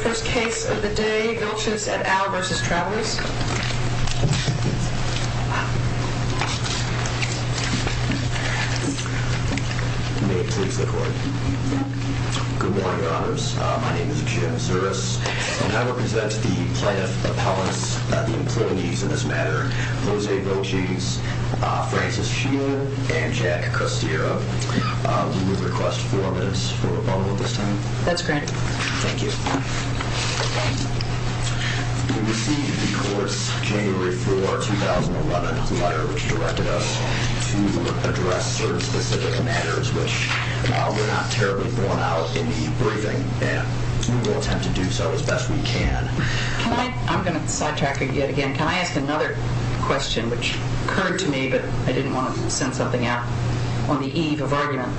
First case of the day, Vilches et al. v. Travelers. May it please the court. Good morning, your honors. My name is Jim Zuris, and I represent the plaintiff appellants, the employees in this matter, Jose Vilches, Francis Sheehan, and Jack Costiero. We would request four minutes for rebuttal at this time. That's granted. Thank you. We received the court's January 4, 2011 letter, which directed us to address certain specific matters, which were not terribly borne out in the briefing, and we will attempt to do so as best we can. I'm going to sidetrack yet again. Can I ask another question, which occurred to me, but I didn't want to send something out on the eve of argument?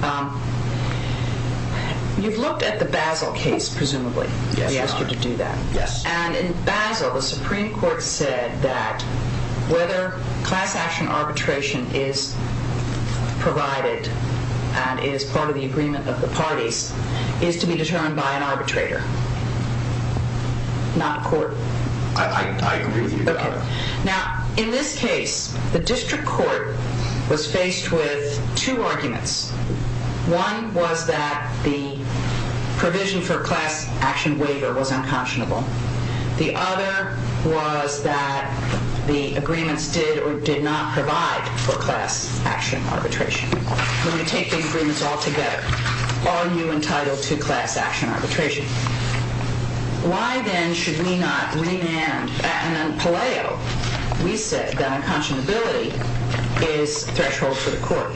You've looked at the Basel case, presumably. Yes, your honor. We asked you to do that. Yes. And in Basel, the Supreme Court said that whether class action arbitration is provided and is part of the agreement of the parties is to be determined by an arbitrator, not a court. I agree with you. Now, in this case, the district court was faced with two arguments. One was that the provision for class action waiver was unconscionable. The other was that the agreements did or did not provide for class action arbitration. When we take these agreements all together, are you entitled to class action arbitration? Why, then, should we not remand? At Palaio, we said that unconscionability is threshold for the court.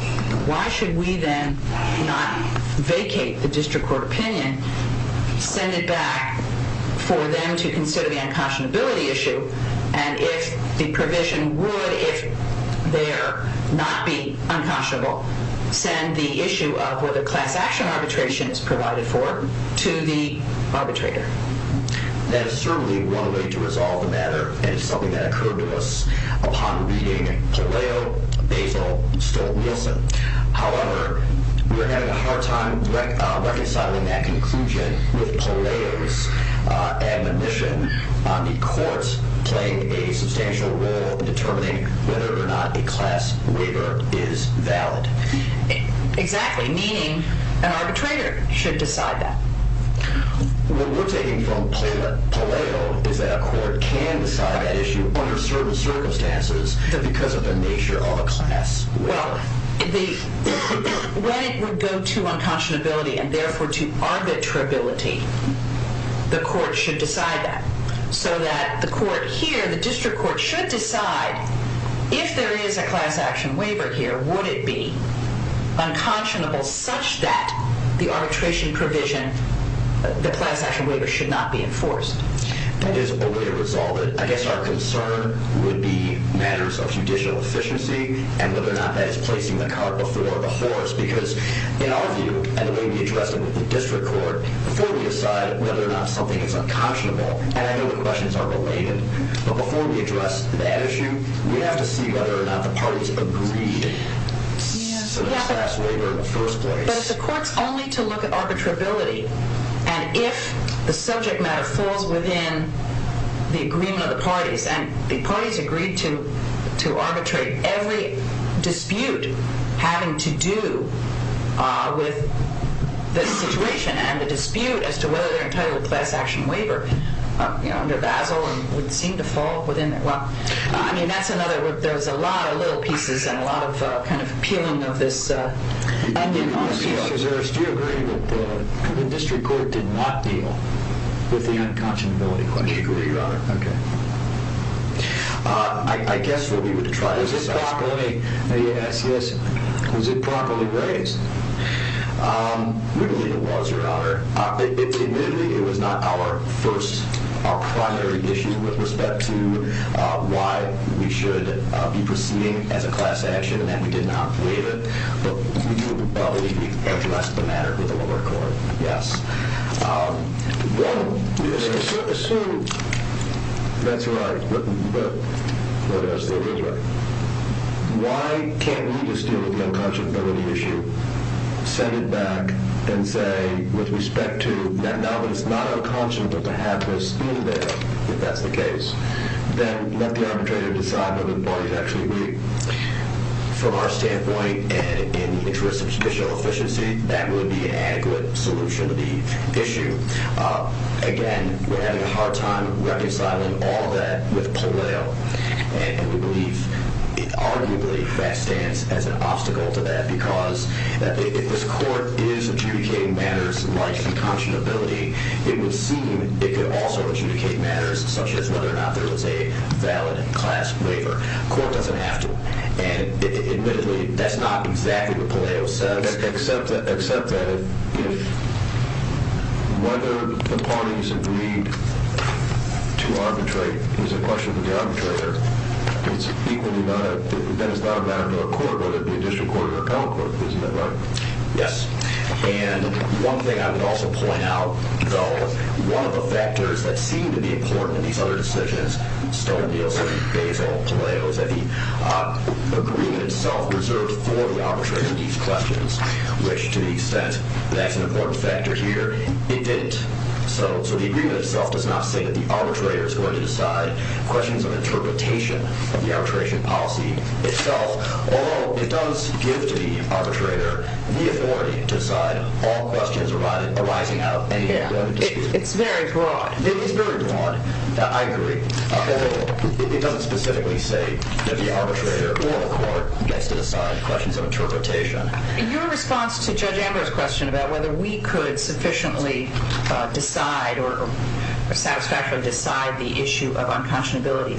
Why should we, then, not vacate the district court opinion, send it back for them to consider the unconscionability issue, and if the provision would, if there, not be unconscionable, send the issue of whether class action arbitration is provided for to the arbitrator? That is certainly one way to resolve the matter, and it's something that occurred to us upon reading Palaio, Basel, Stolt-Nielsen. However, we are having a hard time reconciling that conclusion with Palaio's admonition on the courts playing a substantial role in determining whether or not a class waiver is valid. Exactly, meaning an arbitrator should decide that. What we're taking from Palaio is that a court can decide that issue under certain circumstances because of the nature of a class waiver. Well, when it would go to unconscionability and, therefore, to arbitrability, the court should decide that. So that the court here, the district court, should decide, if there is a class action waiver here, would it be unconscionable such that the arbitration provision, the class action waiver, should not be enforced? That is a way to resolve it. I guess our concern would be matters of judicial efficiency and whether or not that is placing the cart before the horse because, in our view, and the way we address it with the district court, before we decide whether or not something is unconscionable, and I know the questions are related, but before we address that issue, we have to see whether or not the parties agreed to the class waiver in the first place. But if the court is only to look at arbitrability, and if the subject matter falls within the agreement of the parties, and the parties agreed to arbitrate every dispute having to do with the situation and the dispute as to whether they're entitled to a class action waiver under Basel and would seem to fall within that. Well, I mean, that's another. There's a lot of little pieces and a lot of kind of peeling of this. Do you agree that the district court did not deal with the unconscionability question? I agree, Your Honor. Okay. I guess what we would try to discuss. Was it properly raised? We believe it was, Your Honor. Admittedly, it was not our primary issue with respect to why we should be proceeding as a class action, and that we did not waive it. But we would probably address the matter with the lower court. Yes. One is to assume that's right, but why can't we just deal with the unconscionability issue, send it back, and say with respect to that now it's not unconscionable to have this be there if that's the case, then let the arbitrator decide whether the parties actually agree. From our standpoint and in the interest of judicial efficiency, that would be an adequate solution to the issue. Again, we're having a hard time reconciling all of that with Palau, and we believe it arguably backstands as an obstacle to that because if this court is adjudicating matters like unconscionability, it would seem it could also adjudicate matters such as whether or not there was a valid class waiver. The court doesn't have to, and admittedly, that's not exactly what Palau says. Except that if whether the parties agreed to arbitrate is a question for the arbitrator, then it's not a matter for a court, whether it be a district court or a appellate court. Isn't that right? Yes. And one thing I would also point out, though, one of the factors that seemed to be important in these other decisions, Stone, Nielsen, Basil, Palau, is that the agreement itself reserved for the arbitrator these questions, which to the extent that's an important factor here, it didn't. So the agreement itself does not say that the arbitrator is going to decide questions of interpretation of the arbitration policy itself, although it does give to the arbitrator the authority to decide all questions arising out of any of the other decisions. It's very broad. It is very broad. I agree. Although it doesn't specifically say that the arbitrator or the court gets to decide questions of interpretation. In your response to Judge Amber's question about whether we could sufficiently decide or satisfactorily decide the issue of unconscionability,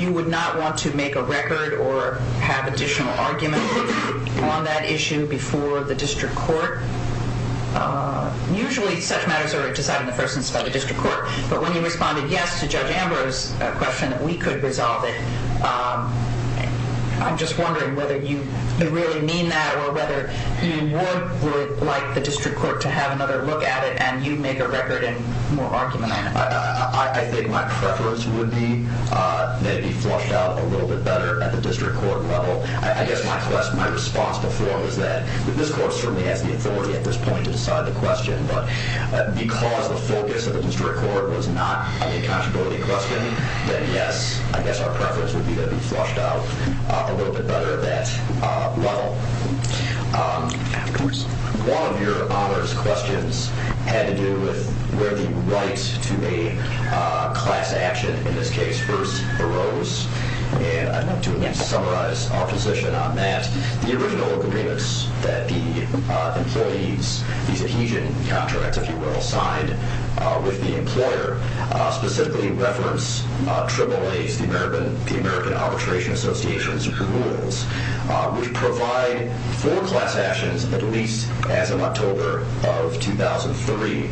you would not want to make a record or have additional argument on that issue before the district court. Usually such matters are decided in the first instance by the district court, but when you responded yes to Judge Amber's question that we could resolve it, I'm just wondering whether you really mean that or whether you would like the district court to have another look at it and you'd make a record and more argument on it. I think my preference would be that it be flushed out a little bit better at the district court level. I guess my response before was that this court certainly has the authority at this point to decide the question, but because the focus of the district court was not on the unconscionability question, then yes, I guess our preference would be that it be flushed out a little bit better at that level. One of your honors questions had to do with where the right to a class action in this case first arose, and I'd like to summarize our position on that. The original agreements that the employees, these adhesion contracts, if you will, signed with the employer specifically reference AAAs, the American Arbitration Association's rules, which provide for class actions at least as of October of 2003.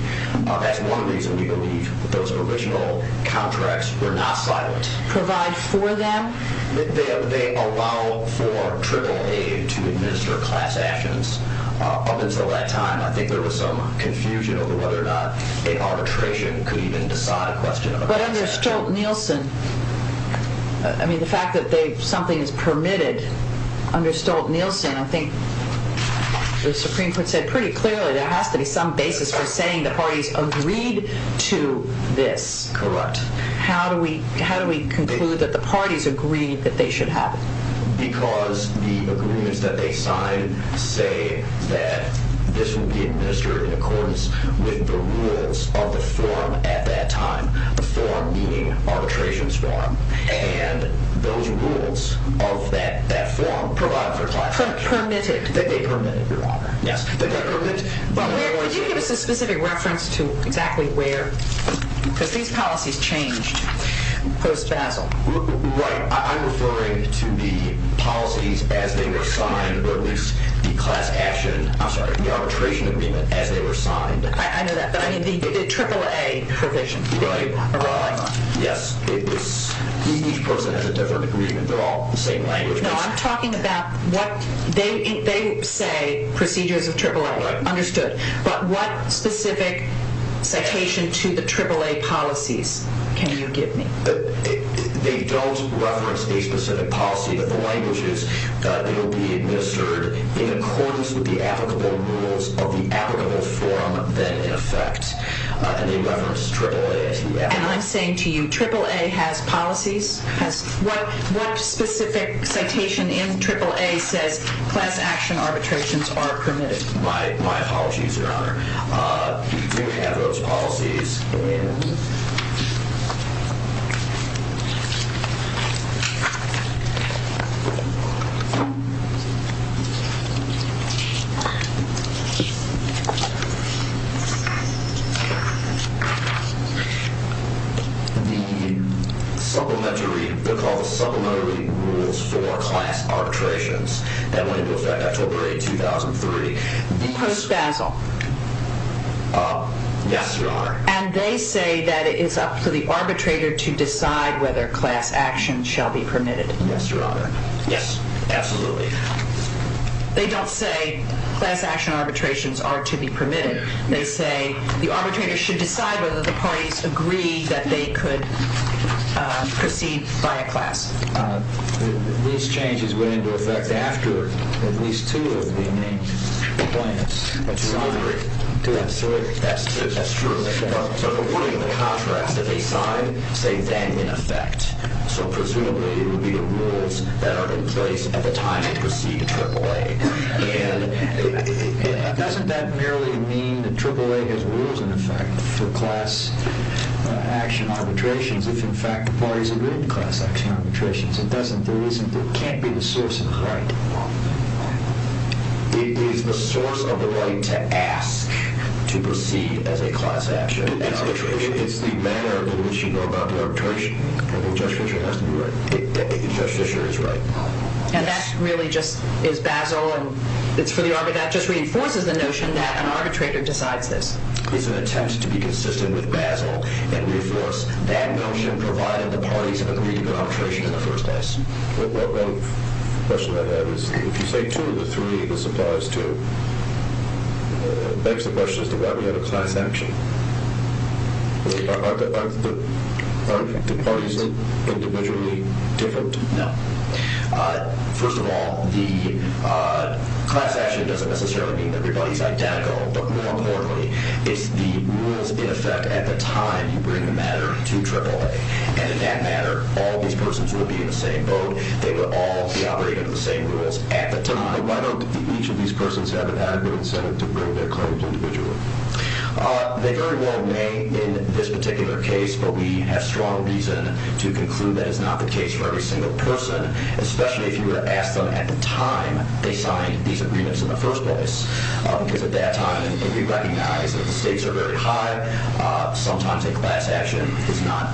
That's one reason we believe that those original contracts were not silent. Provide for them? They allow for AAA to administer class actions. Up until that time, I think there was some confusion over whether or not an arbitration could even decide a question of a class action. But under Stolt-Nielsen, I mean the fact that something is permitted under Stolt-Nielsen, I think the Supreme Court said pretty clearly there has to be some basis for saying the parties agreed to this. Correct. How do we conclude that the parties agreed that they should have it? Because the agreements that they signed say that this will be administered in accordance with the rules of the forum at that time. The forum meaning arbitration forum. And those rules of that forum provide for class action. Permitted. They permitted, Your Honor. Yes. Could you give us a specific reference to exactly where? Because these policies changed post-Basel. Right. I'm referring to the policies as they were signed, or at least the arbitration agreement as they were signed. I know that, but I mean the AAA provision. Right. Yes. Each person has a different agreement. They're all the same language. No, I'm talking about what they say procedures of AAA. Right. Understood. But what specific citation to the AAA policies can you give me? They don't reference a specific policy. But the language is that it will be administered in accordance with the applicable rules of the applicable forum then in effect. And they reference AAA. And I'm saying to you, AAA has policies. What specific citation in AAA says class action arbitrations are permitted? My apologies, Your Honor. We do have those policies in the supplementary rules for class arbitrations that went into effect October 8, 2003. Post-Basel. Yes, Your Honor. And they say that it is up to the arbitrator to decide whether class action shall be permitted. Yes, Your Honor. Yes, absolutely. They don't say class action arbitrations are to be permitted. They say the arbitrator should decide whether the parties agree that they could proceed by a class. These changes went into effect after at least two of the main plaintiffs signed. That's true. So according to the contracts that they signed, say then in effect. So presumably it would be the rules that are in place at the time they proceed to AAA. Doesn't that merely mean that AAA has rules in effect for class action arbitrations if in fact the parties agree to class action arbitrations? It doesn't. It can't be the source of the right. It is the source of the right to ask to proceed as a class action arbitration. It's the manner in which you go about the arbitration. Judge Fischer has to be right. Judge Fischer is right. And that really just is Basel. That just reinforces the notion that an arbitrator decides this. It's an attempt to be consistent with Basel and reinforce that notion provided the parties agree to the arbitration in the first place. One question I have is if you say two of the three, this applies to, begs the question as to why we have a class action. Are the parties individually different? No. First of all, the class action doesn't necessarily mean that everybody is identical. But more importantly, it's the rules in effect at the time you bring the matter to AAA. And in that matter, all these persons will be in the same boat. They will all be operating under the same rules at the time. Why don't each of these persons have an adequate incentive to bring their claims individually? They very well may in this particular case, but we have strong reason to conclude that is not the case for every single person, especially if you were to ask them at the time they signed these agreements in the first place. Because at that time, we recognize that the stakes are very high. Sometimes a class action is not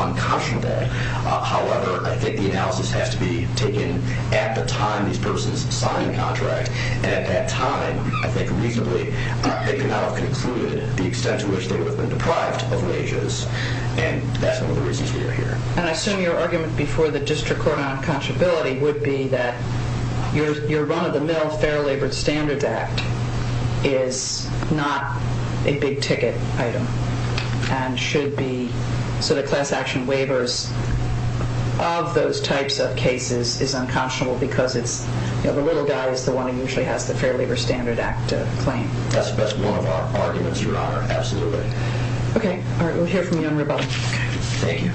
unconscionable. However, I think the analysis has to be taken at the time these persons sign the contract. And at that time, I think reasonably, they could not have concluded the extent to which they would have been deprived of wages. And that's one of the reasons we are here. And I assume your argument before the district court on unconscionability would be that your run-of-the-mill Fair Labor Standards Act is not a big ticket item. And should be, so the class action waivers of those types of cases is unconscionable because the little guy is the one who usually has the Fair Labor Standards Act claim. That's one of our arguments, Your Honor. Absolutely. Okay. We'll hear from you on rebuttal. Thank you.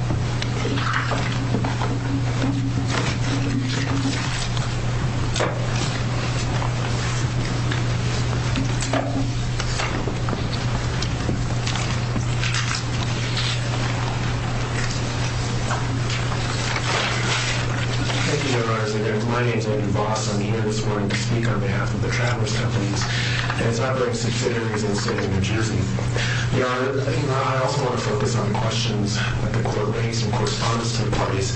Thank you, Your Honor. My name is Andrew Voss. I'm here this morning to speak on behalf of the Traverse Companies and its operating subsidiaries in the state of New Jersey. Your Honor, I also want to focus on the questions that the court raised in correspondence to the parties.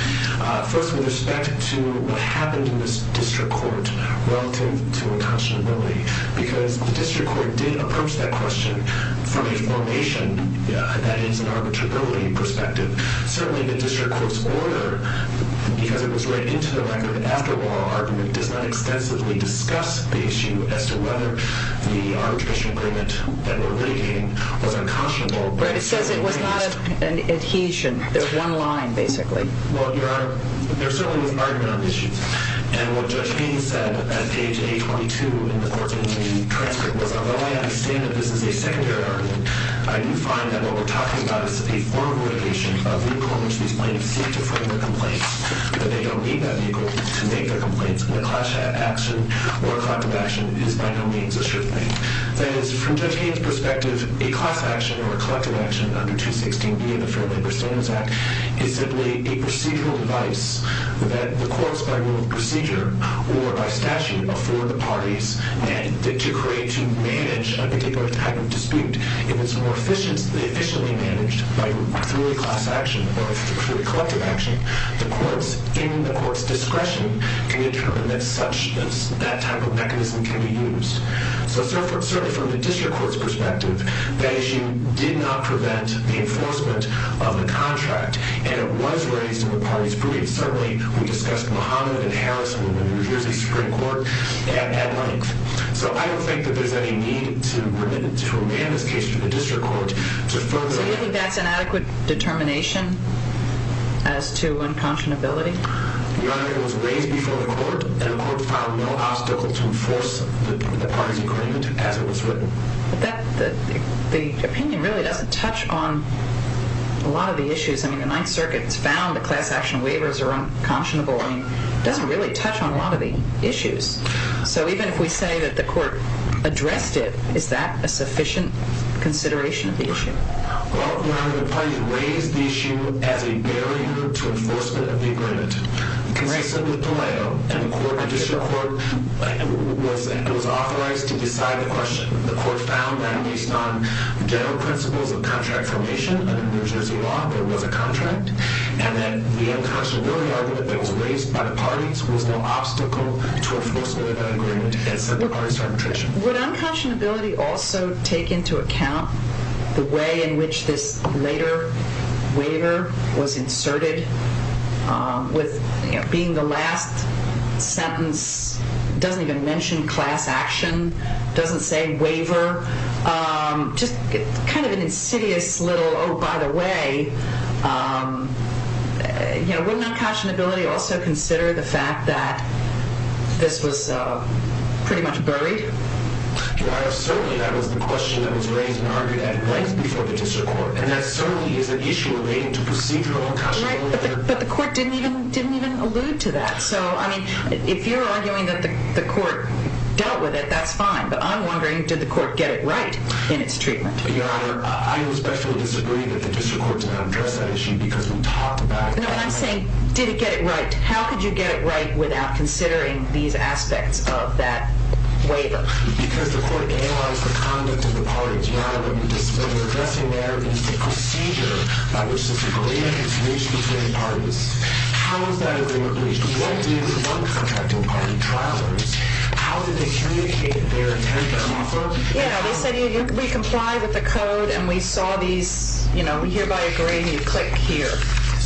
First, with respect to what happened in this district court relative to unconscionability, because the district court did approach that question from a formation, that is, an arbitrability perspective. Certainly, the district court's order, because it was read into the record after oral argument, does not extensively discuss the issue as to whether the arbitration agreement that we're litigating was unconscionable. But it says it was not an adhesion. There's one line, basically. Well, Your Honor, there certainly was an argument on the issue. And what Judge Haynes said at page 822 in the transcript was, although I understand that this is a secondary argument, I do find that what we're talking about is a form of litigation of the accord which these plaintiffs seek to frame their complaints, but they don't need that vehicle to make their complaints, and a class action or a collective action is by no means a sure thing. That is, from Judge Haynes' perspective, a class action or a collective action under 216B of the Fair Labor Standards Act is simply a procedural device that the courts, by rule of procedure or by statute, afford the parties to create, to manage a particular type of dispute. If it's more efficiently managed through a class action or through a collective action, the courts, in the court's discretion, can determine that that type of mechanism can be used. So certainly from the district court's perspective, that issue did not prevent the enforcement of the contract, and it was raised in the parties' briefs. Certainly, we discussed Muhammad and Harris in the New Jersey Supreme Court at length. So I don't think that there's any need to remand this case to the district court to further... So you think that's an adequate determination as to unconscionability? Your Honor, it was raised before the court, and the court found no obstacle to enforce the parties' agreement as it was written. But the opinion really doesn't touch on a lot of the issues. I mean, the Ninth Circuit has found that class action waivers are unconscionable. I mean, it doesn't really touch on a lot of the issues. So even if we say that the court addressed it, is that a sufficient consideration of the issue? Well, Your Honor, the parties raised the issue as a barrier to enforcement of the agreement. Considering the delay, the district court was authorized to decide the question. The court found that based on general principles of contract formation under New Jersey law, there was a contract, and that the unconscionability argument that was raised by the parties was no obstacle to enforcing the agreement as set by the parties' arbitration. Would unconscionability also take into account the way in which this later waiver was inserted? With being the last sentence doesn't even mention class action, doesn't say waiver, just kind of an insidious little, oh, by the way. Wouldn't unconscionability also consider the fact that this was pretty much buried? Your Honor, certainly that was the question that was raised and argued at length before the district court. And that certainly is an issue relating to procedural unconscionability. Right, but the court didn't even allude to that. So, I mean, if you're arguing that the court dealt with it, that's fine. But I'm wondering, did the court get it right in its treatment? Your Honor, I respectfully disagree that the district court did not address that issue because we talked about it. No, and I'm saying, did it get it right? How could you get it right without considering these aspects of that waiver? Because the court analyzed the conduct of the parties. Your Honor, when you're addressing there the procedure by which the agreement is reached between parties, how is that agreement reached? What did the non-contracting party trialers, how did they communicate their intent and offer? Yeah, they said we comply with the code and we saw these, you know, we hereby agree and you click here.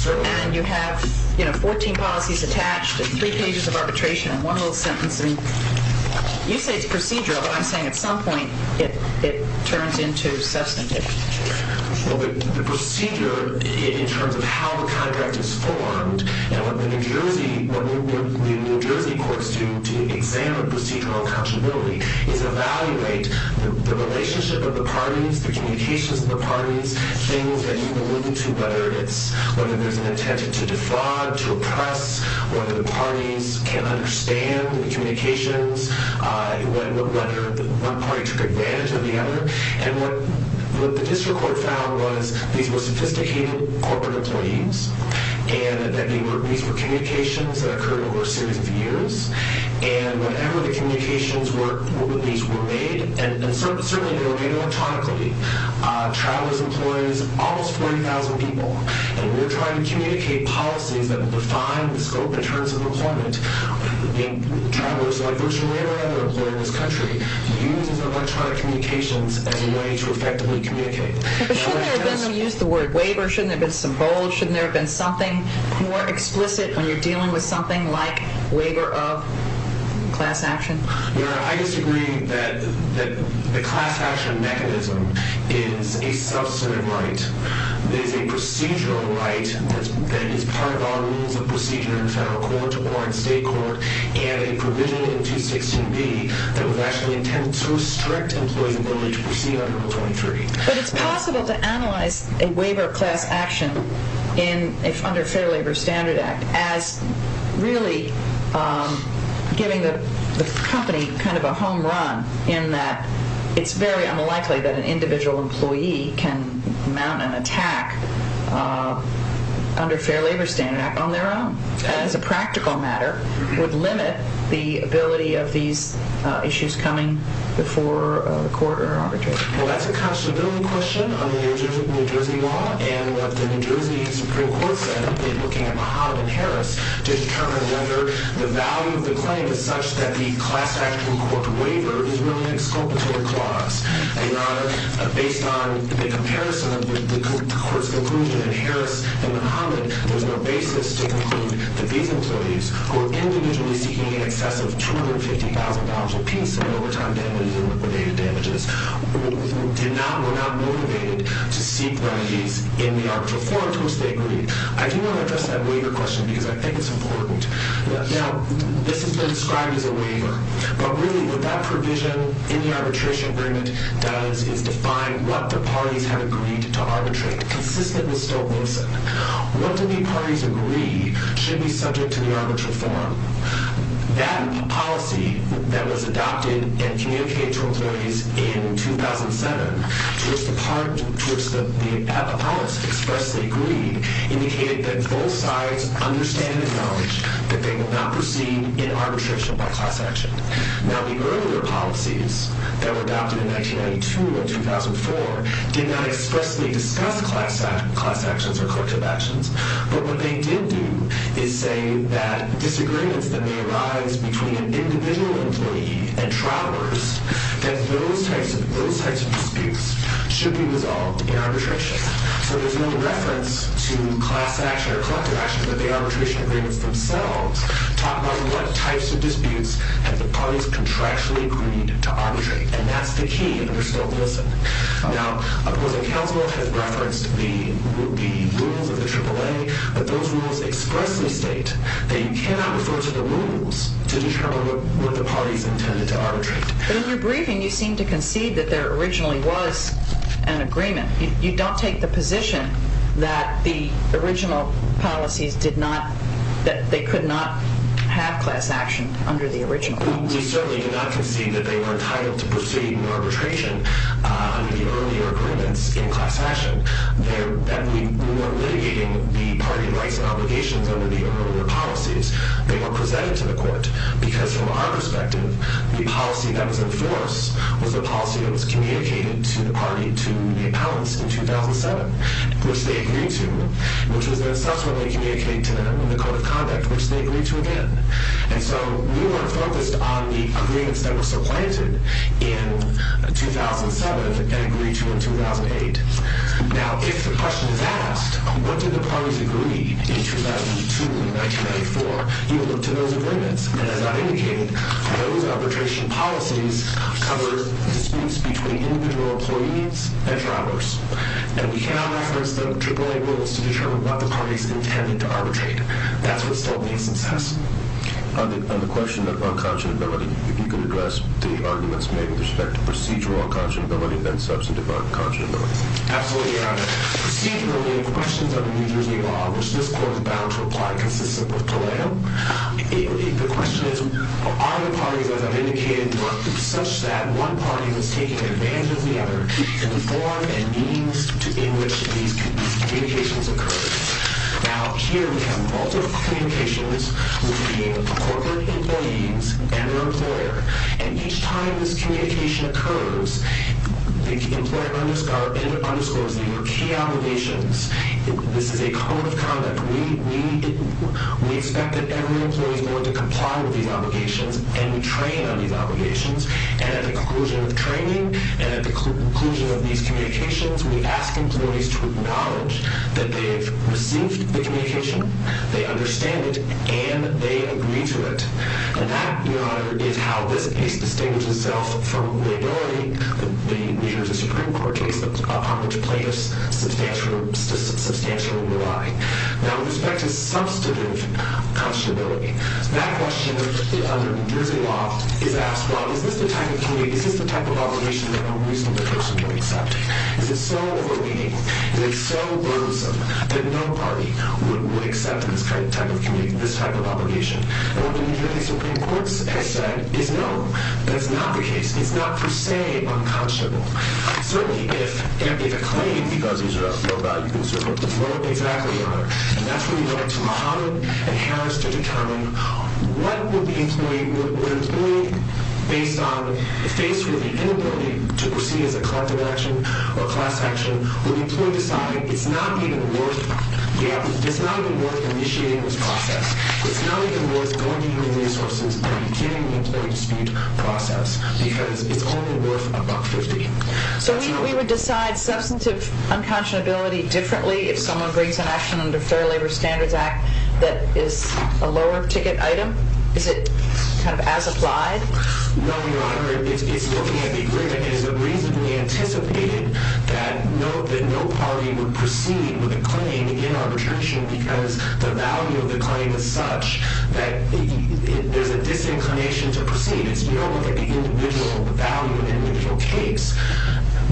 And you have, you know, 14 policies attached and three pages of arbitration and one little sentence. You say it's procedural, but I'm saying at some point it turns into substantive. Well, the procedure in terms of how the contract is formed, and what the New Jersey courts do to examine procedural accountability is evaluate the relationship of the parties, the communications of the parties, things that you allude to, whether it's whether there's an intent to defraud, to oppress, whether the parties can understand the communications, whether one party took advantage of the other. And what the district court found was these were sophisticated corporate employees and that these were communications that occurred over a series of years. And whenever the communications were made, and certainly they were made electronically, trialers employ almost 40,000 people. And we're trying to communicate policies that define the scope in terms of employment. Trialers, like virtually every other employer in this country, uses electronic communications as a way to effectively communicate. But shouldn't there have been, you used the word waiver, shouldn't there have been some bold, shouldn't there have been something more explicit when you're dealing with something like waiver of class action? I disagree that the class action mechanism is a substantive right. It is a procedural right that is part of our rules of procedure in federal court or in state court, and a provision in 216B that would actually intend to restrict employees' ability to proceed under Article 23. But it's possible to analyze a waiver of class action under Fair Labor Standard Act as really giving the company kind of a home run, in that it's very unlikely that an individual employee can mount an attack under Fair Labor Standard Act on their own. As a practical matter, it would limit the ability of these issues coming before the court or arbitration. Well, that's a constitutional question under the New Jersey law, and what the New Jersey Supreme Court said in looking at Muhammad and Harris to determine whether the value of the claim is such that the class action court waiver is really an exculpatory clause. Your Honor, based on the comparison of the court's conclusion in Harris and Muhammad, there's no basis to conclude that these employees who are individually seeking an excessive $250,000 apiece in overtime damages or liquidated damages were not motivated to seek remedies in the arbitral forum to which they agreed. I do want to address that waiver question because I think it's important. Now, this has been described as a waiver, but really what that provision in the arbitration agreement does is define what the parties have agreed to arbitrate, consistently so. What do the parties agree should be subject to the arbitral forum? That policy that was adopted and communicated to employees in 2007, to which the appellants expressly agreed, indicated that both sides understand and acknowledge that they will not proceed in arbitration by class action. Now, the earlier policies that were adopted in 1992 and 2004 did not expressly discuss class actions or collective actions, but what they did do is say that disagreements that may arise between an individual employee and travelers, that those types of disputes should be resolved in arbitration. So there's no reference to class action or collective action, but the arbitration agreements themselves talk about what types of disputes have the parties contractually agreed to arbitrate, and that's the key, and we're still to listen. Now, opposing counsel has referenced the rules of the AAA, but those rules expressly state that you cannot refer to the rules to determine what the parties intended to arbitrate. But in your briefing, you seem to concede that there originally was an agreement. You don't take the position that the original policies did not, that they could not have class action under the original. We certainly do not concede that they were entitled to proceed in arbitration under the earlier agreements in class action. We weren't litigating the party rights and obligations under the earlier policies. They were presented to the court, because from our perspective, the policy that was in force was a policy that was communicated to the party, to the appellants in 2007, which they agreed to, which was then subsequently communicated to them in the Code of Conduct, which they agreed to again. And so we weren't focused on the agreements that were supplanted in 2007 and agreed to in 2008. Now, if the question is asked, what did the parties agree in 2002 and 1994, you look to those agreements, and as I've indicated, those arbitration policies cover disputes between individual employees and drivers, and we cannot reference the AAA rules to determine what the parties intended to arbitrate. That's what still makes them successful. On the question of unconscionability, if you could address the arguments made with respect to procedural unconscionability and substantive unconscionability. Absolutely, Your Honor. Procedurally, the questions of New Jersey law, which this court is bound to apply consistent with Toledo, the question is, are the parties, as I've indicated, such that one party was taking advantage of the other in the form and means in which these communications occurred? Now, here we have multiple communications between corporate employees and their employer, and each time this communication occurs, the employer underscores their key obligations. This is a Code of Conduct. We expect that every employee is going to comply with these obligations, and we train on these obligations, and at the conclusion of training and at the conclusion of these communications, we ask employees to acknowledge that they have received the communication, they understand it, and they agree to it. And that, Your Honor, is how this case distinguishes itself from the ability that the New Jersey Supreme Court takes upon which plaintiffs substantially rely. Now, with respect to substantive unconscionability, that question under New Jersey law is asked, well, is this the type of obligation that a reasonable person would accept? Is it so overwhelming, is it so burdensome that no party would accept this type of obligation? And what the New Jersey Supreme Court has said is no, that's not the case. It's not per se unconscionable. Certainly, if a claim... Because these are all low-value concerns. Exactly, Your Honor. And that's where you go to Mahan and Harris to determine what would an employee, based on the face with the inability to proceed as a collective action or class action, would the employee decide it's not even worth initiating this process, it's not even worth going into the resources and beginning the employee dispute process because it's only worth $1.50. So we would decide substantive unconscionability differently if someone brings an action under Fair Labor Standards Act that is a lower-ticket item? Is it kind of as applied? No, Your Honor. It's looking at the agreement. It is reasonably anticipated that no party would proceed with a claim in arbitration because the value of the claim is such that there's a disinclination to proceed. It's more like the individual value in an individual case.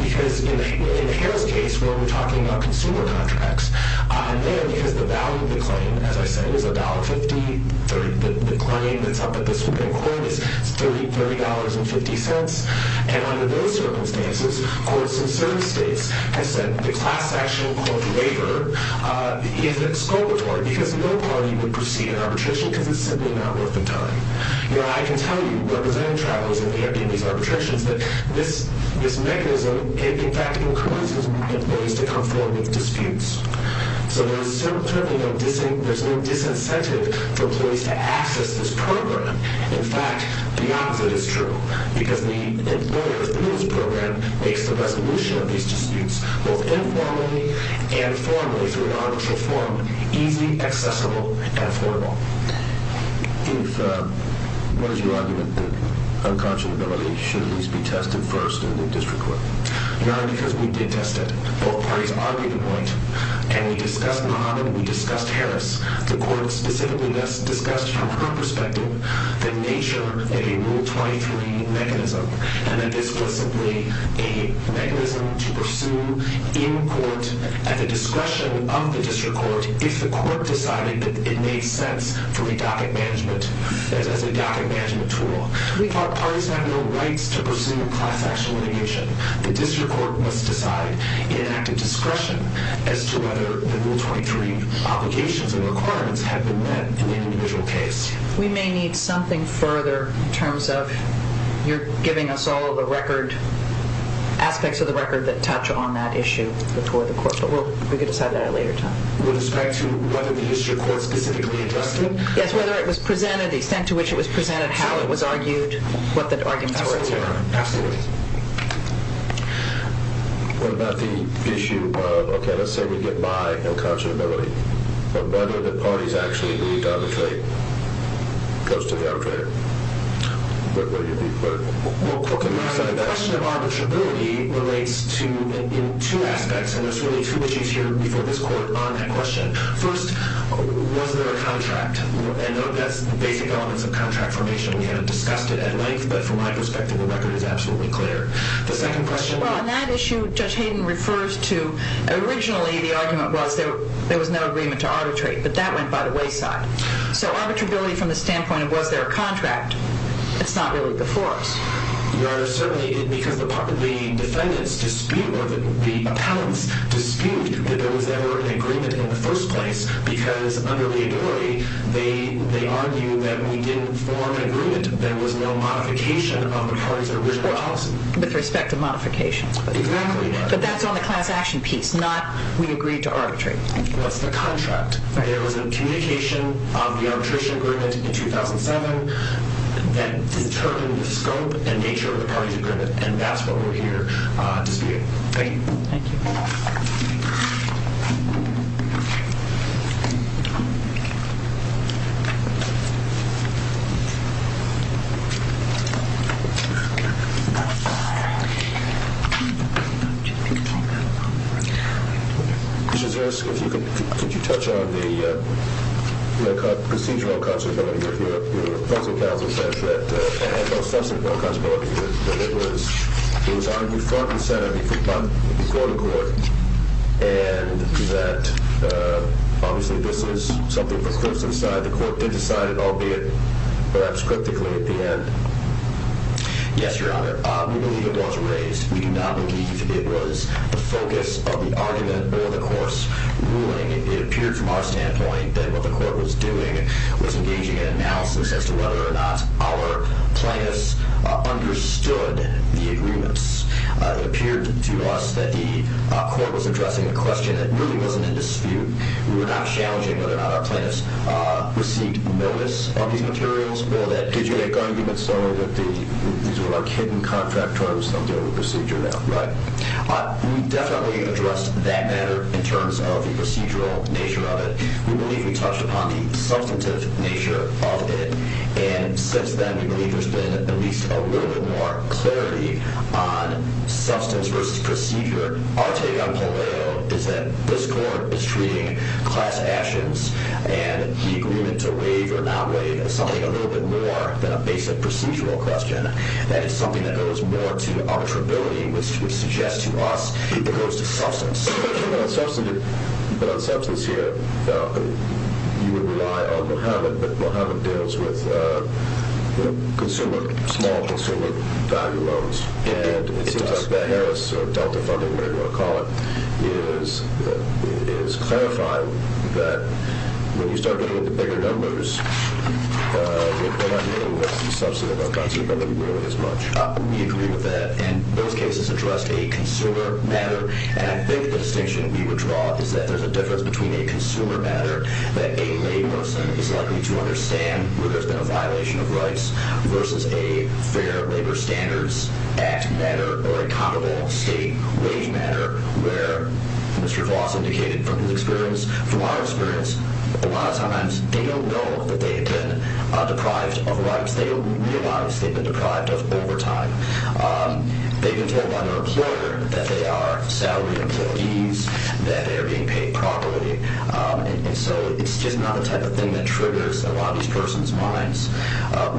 Because in the Harris case, where we're talking about consumer contracts, and then because the value of the claim, as I said, is $1.50, the claim that's up at the Supreme Court is $30.50, and under those circumstances, courts in certain states have said the class action, called the waiver, is exculpatory because no party would proceed in arbitration because it's simply not worth the time. Your Honor, I can tell you, representing travelers in these arbitrations, that this mechanism, in fact, encourages employees to come forward with disputes. So there's no disincentive for employees to access this program. In fact, the opposite is true because the employer, through this program, makes the resolution of these disputes both informally and formally through an arbitral form, easily accessible and affordable. What is your argument that unconscionability should at least be tested first in the district court? Your Honor, because we did test it. Both parties argued it right. And we discussed Muhammad. We discussed Harris. The court specifically discussed from her perspective the nature of a Rule 23 mechanism and that this was simply a mechanism to pursue in court at the discretion of the district court if the court decided that it made sense for a docket management tool. Parties have no rights to pursue a class action litigation. The district court must decide, in an act of discretion, as to whether the Rule 23 obligations and requirements have been met in the individual case. We may need something further in terms of you're giving us all of the record, aspects of the record that touch on that issue before the court. But we can decide that at a later time. With respect to whether the district court specifically addressed it? Yes, whether it was presented, the extent to which it was presented, how it was argued, what the arguments were. Absolutely, Your Honor. Absolutely. What about the issue of, okay, let's say we get by unconscionability, but whether the parties actually agreed to arbitrate, goes to the arbitrator. The question of arbitrability relates to two aspects, and there's really two issues here before this court on that question. First, was there a contract? I know that's the basic elements of contract formation. We haven't discussed it at length, but from my perspective, the record is absolutely clear. The second question would be? Well, on that issue, Judge Hayden refers to, originally the argument was there was no agreement to arbitrate, but that went by the wayside. So arbitrability from the standpoint of, was there a contract? It's not really before us. Your Honor, certainly, because the defendants dispute, or the appellants dispute, that there was ever an agreement in the first place, because under liability, they argue that we didn't form an agreement. There was no modification of the parties' original policy. With respect to modification. Exactly, Your Honor. But that's on the class action piece, not we agreed to arbitrate. What's the contract? There was a communication of the arbitration agreement in 2007 that determined the scope and nature of the parties' agreement, and that's what we're here disputing. Thank you. Thank you. Thank you. Judge Harris, could you touch on the procedural constability of your counsel that it was argued front and center before the court, and that obviously this is something for courts to decide. The court did decide it, albeit perhaps cryptically at the end. Yes, Your Honor. We believe it was raised. We do not believe it was the focus of the argument or the court's ruling. It appeared from our standpoint that what the court was doing was engaging in analysis as to whether or not our plaintiffs understood the agreements. It appeared to us that the court was addressing a question that really wasn't in dispute. We were not challenging whether or not our plaintiffs received notice of these materials or that did you make arguments so that these were our hidden contract terms that don't deal with procedure now, right? We definitely addressed that matter in terms of the procedural nature of it. We believe we touched upon the substantive nature of it, and since then we believe there's been at least a little bit more clarity on substance versus procedure. Our take on Palermo is that this court is treating class actions and the agreement to waive or not waive as something a little bit more than a basic procedural question, that it's something that goes more to arbitrability, which suggests to us it goes to substance. But on substance here, you would rely on Mohammed, but Mohammed deals with consumer, small consumer value loans, and it seems like the Harris or Delta funding, whatever you want to call it, is clarifying that when you start getting into bigger numbers, what I mean is the substantive of that is really as much. We agree with that, and both cases address a consumer matter, and I think the distinction we would draw is that there's a difference between a consumer matter that a layperson is likely to understand where there's been a violation of rights versus a fair labor standards act matter or a comparable state wage matter where Mr. Voss indicated from his experience, from our experience, a lot of times they don't know that they've been deprived of rights. They realize they've been deprived of overtime. They've been told by their employer that they are salary employees, that they are being paid properly, and so it's just not the type of thing that triggers a lot of these persons' minds.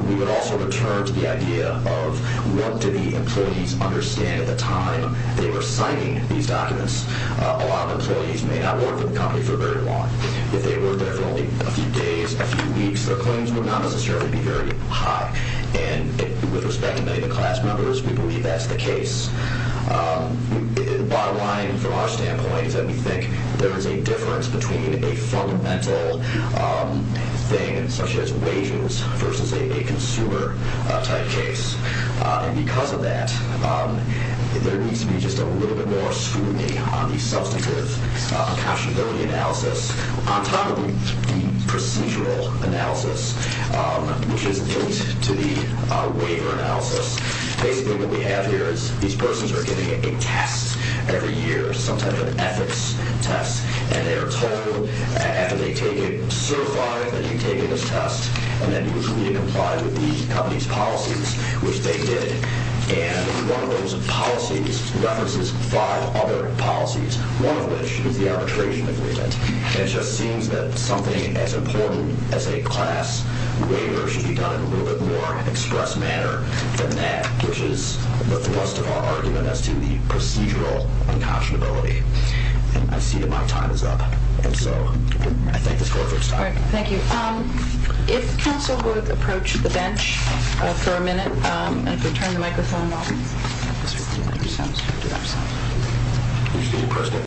We would also return to the idea of what do the employees understand at the time they were signing these documents. A lot of employees may not work for the company for very long. If they worked there for only a few days, a few weeks, their claims would not necessarily be very high, and with respect to many of the class members, we believe that's the case. The bottom line from our standpoint is that we think there is a difference between a fundamental thing such as wages versus a consumer type case, and because of that there needs to be just a little bit more scrutiny on the substantive precautionability analysis. On top of the procedural analysis, which is linked to the waiver analysis, basically what we have here is these persons are getting a test every year, some type of ethics test, and they are told after they take it, certify that you've taken this test, and that you have complied with the company's policies, which they did, and one of those policies references five other policies, one of which is the arbitration agreement, and it just seems that something as important as a class waiver should be done in a little bit more express manner than that, which is the thrust of our argument as to the procedural unconscionability. I see that my time is up, and so I thank this board for its time. All right. Thank you. If council would approach the bench for a minute, and if we turn the microphone off. Thank you.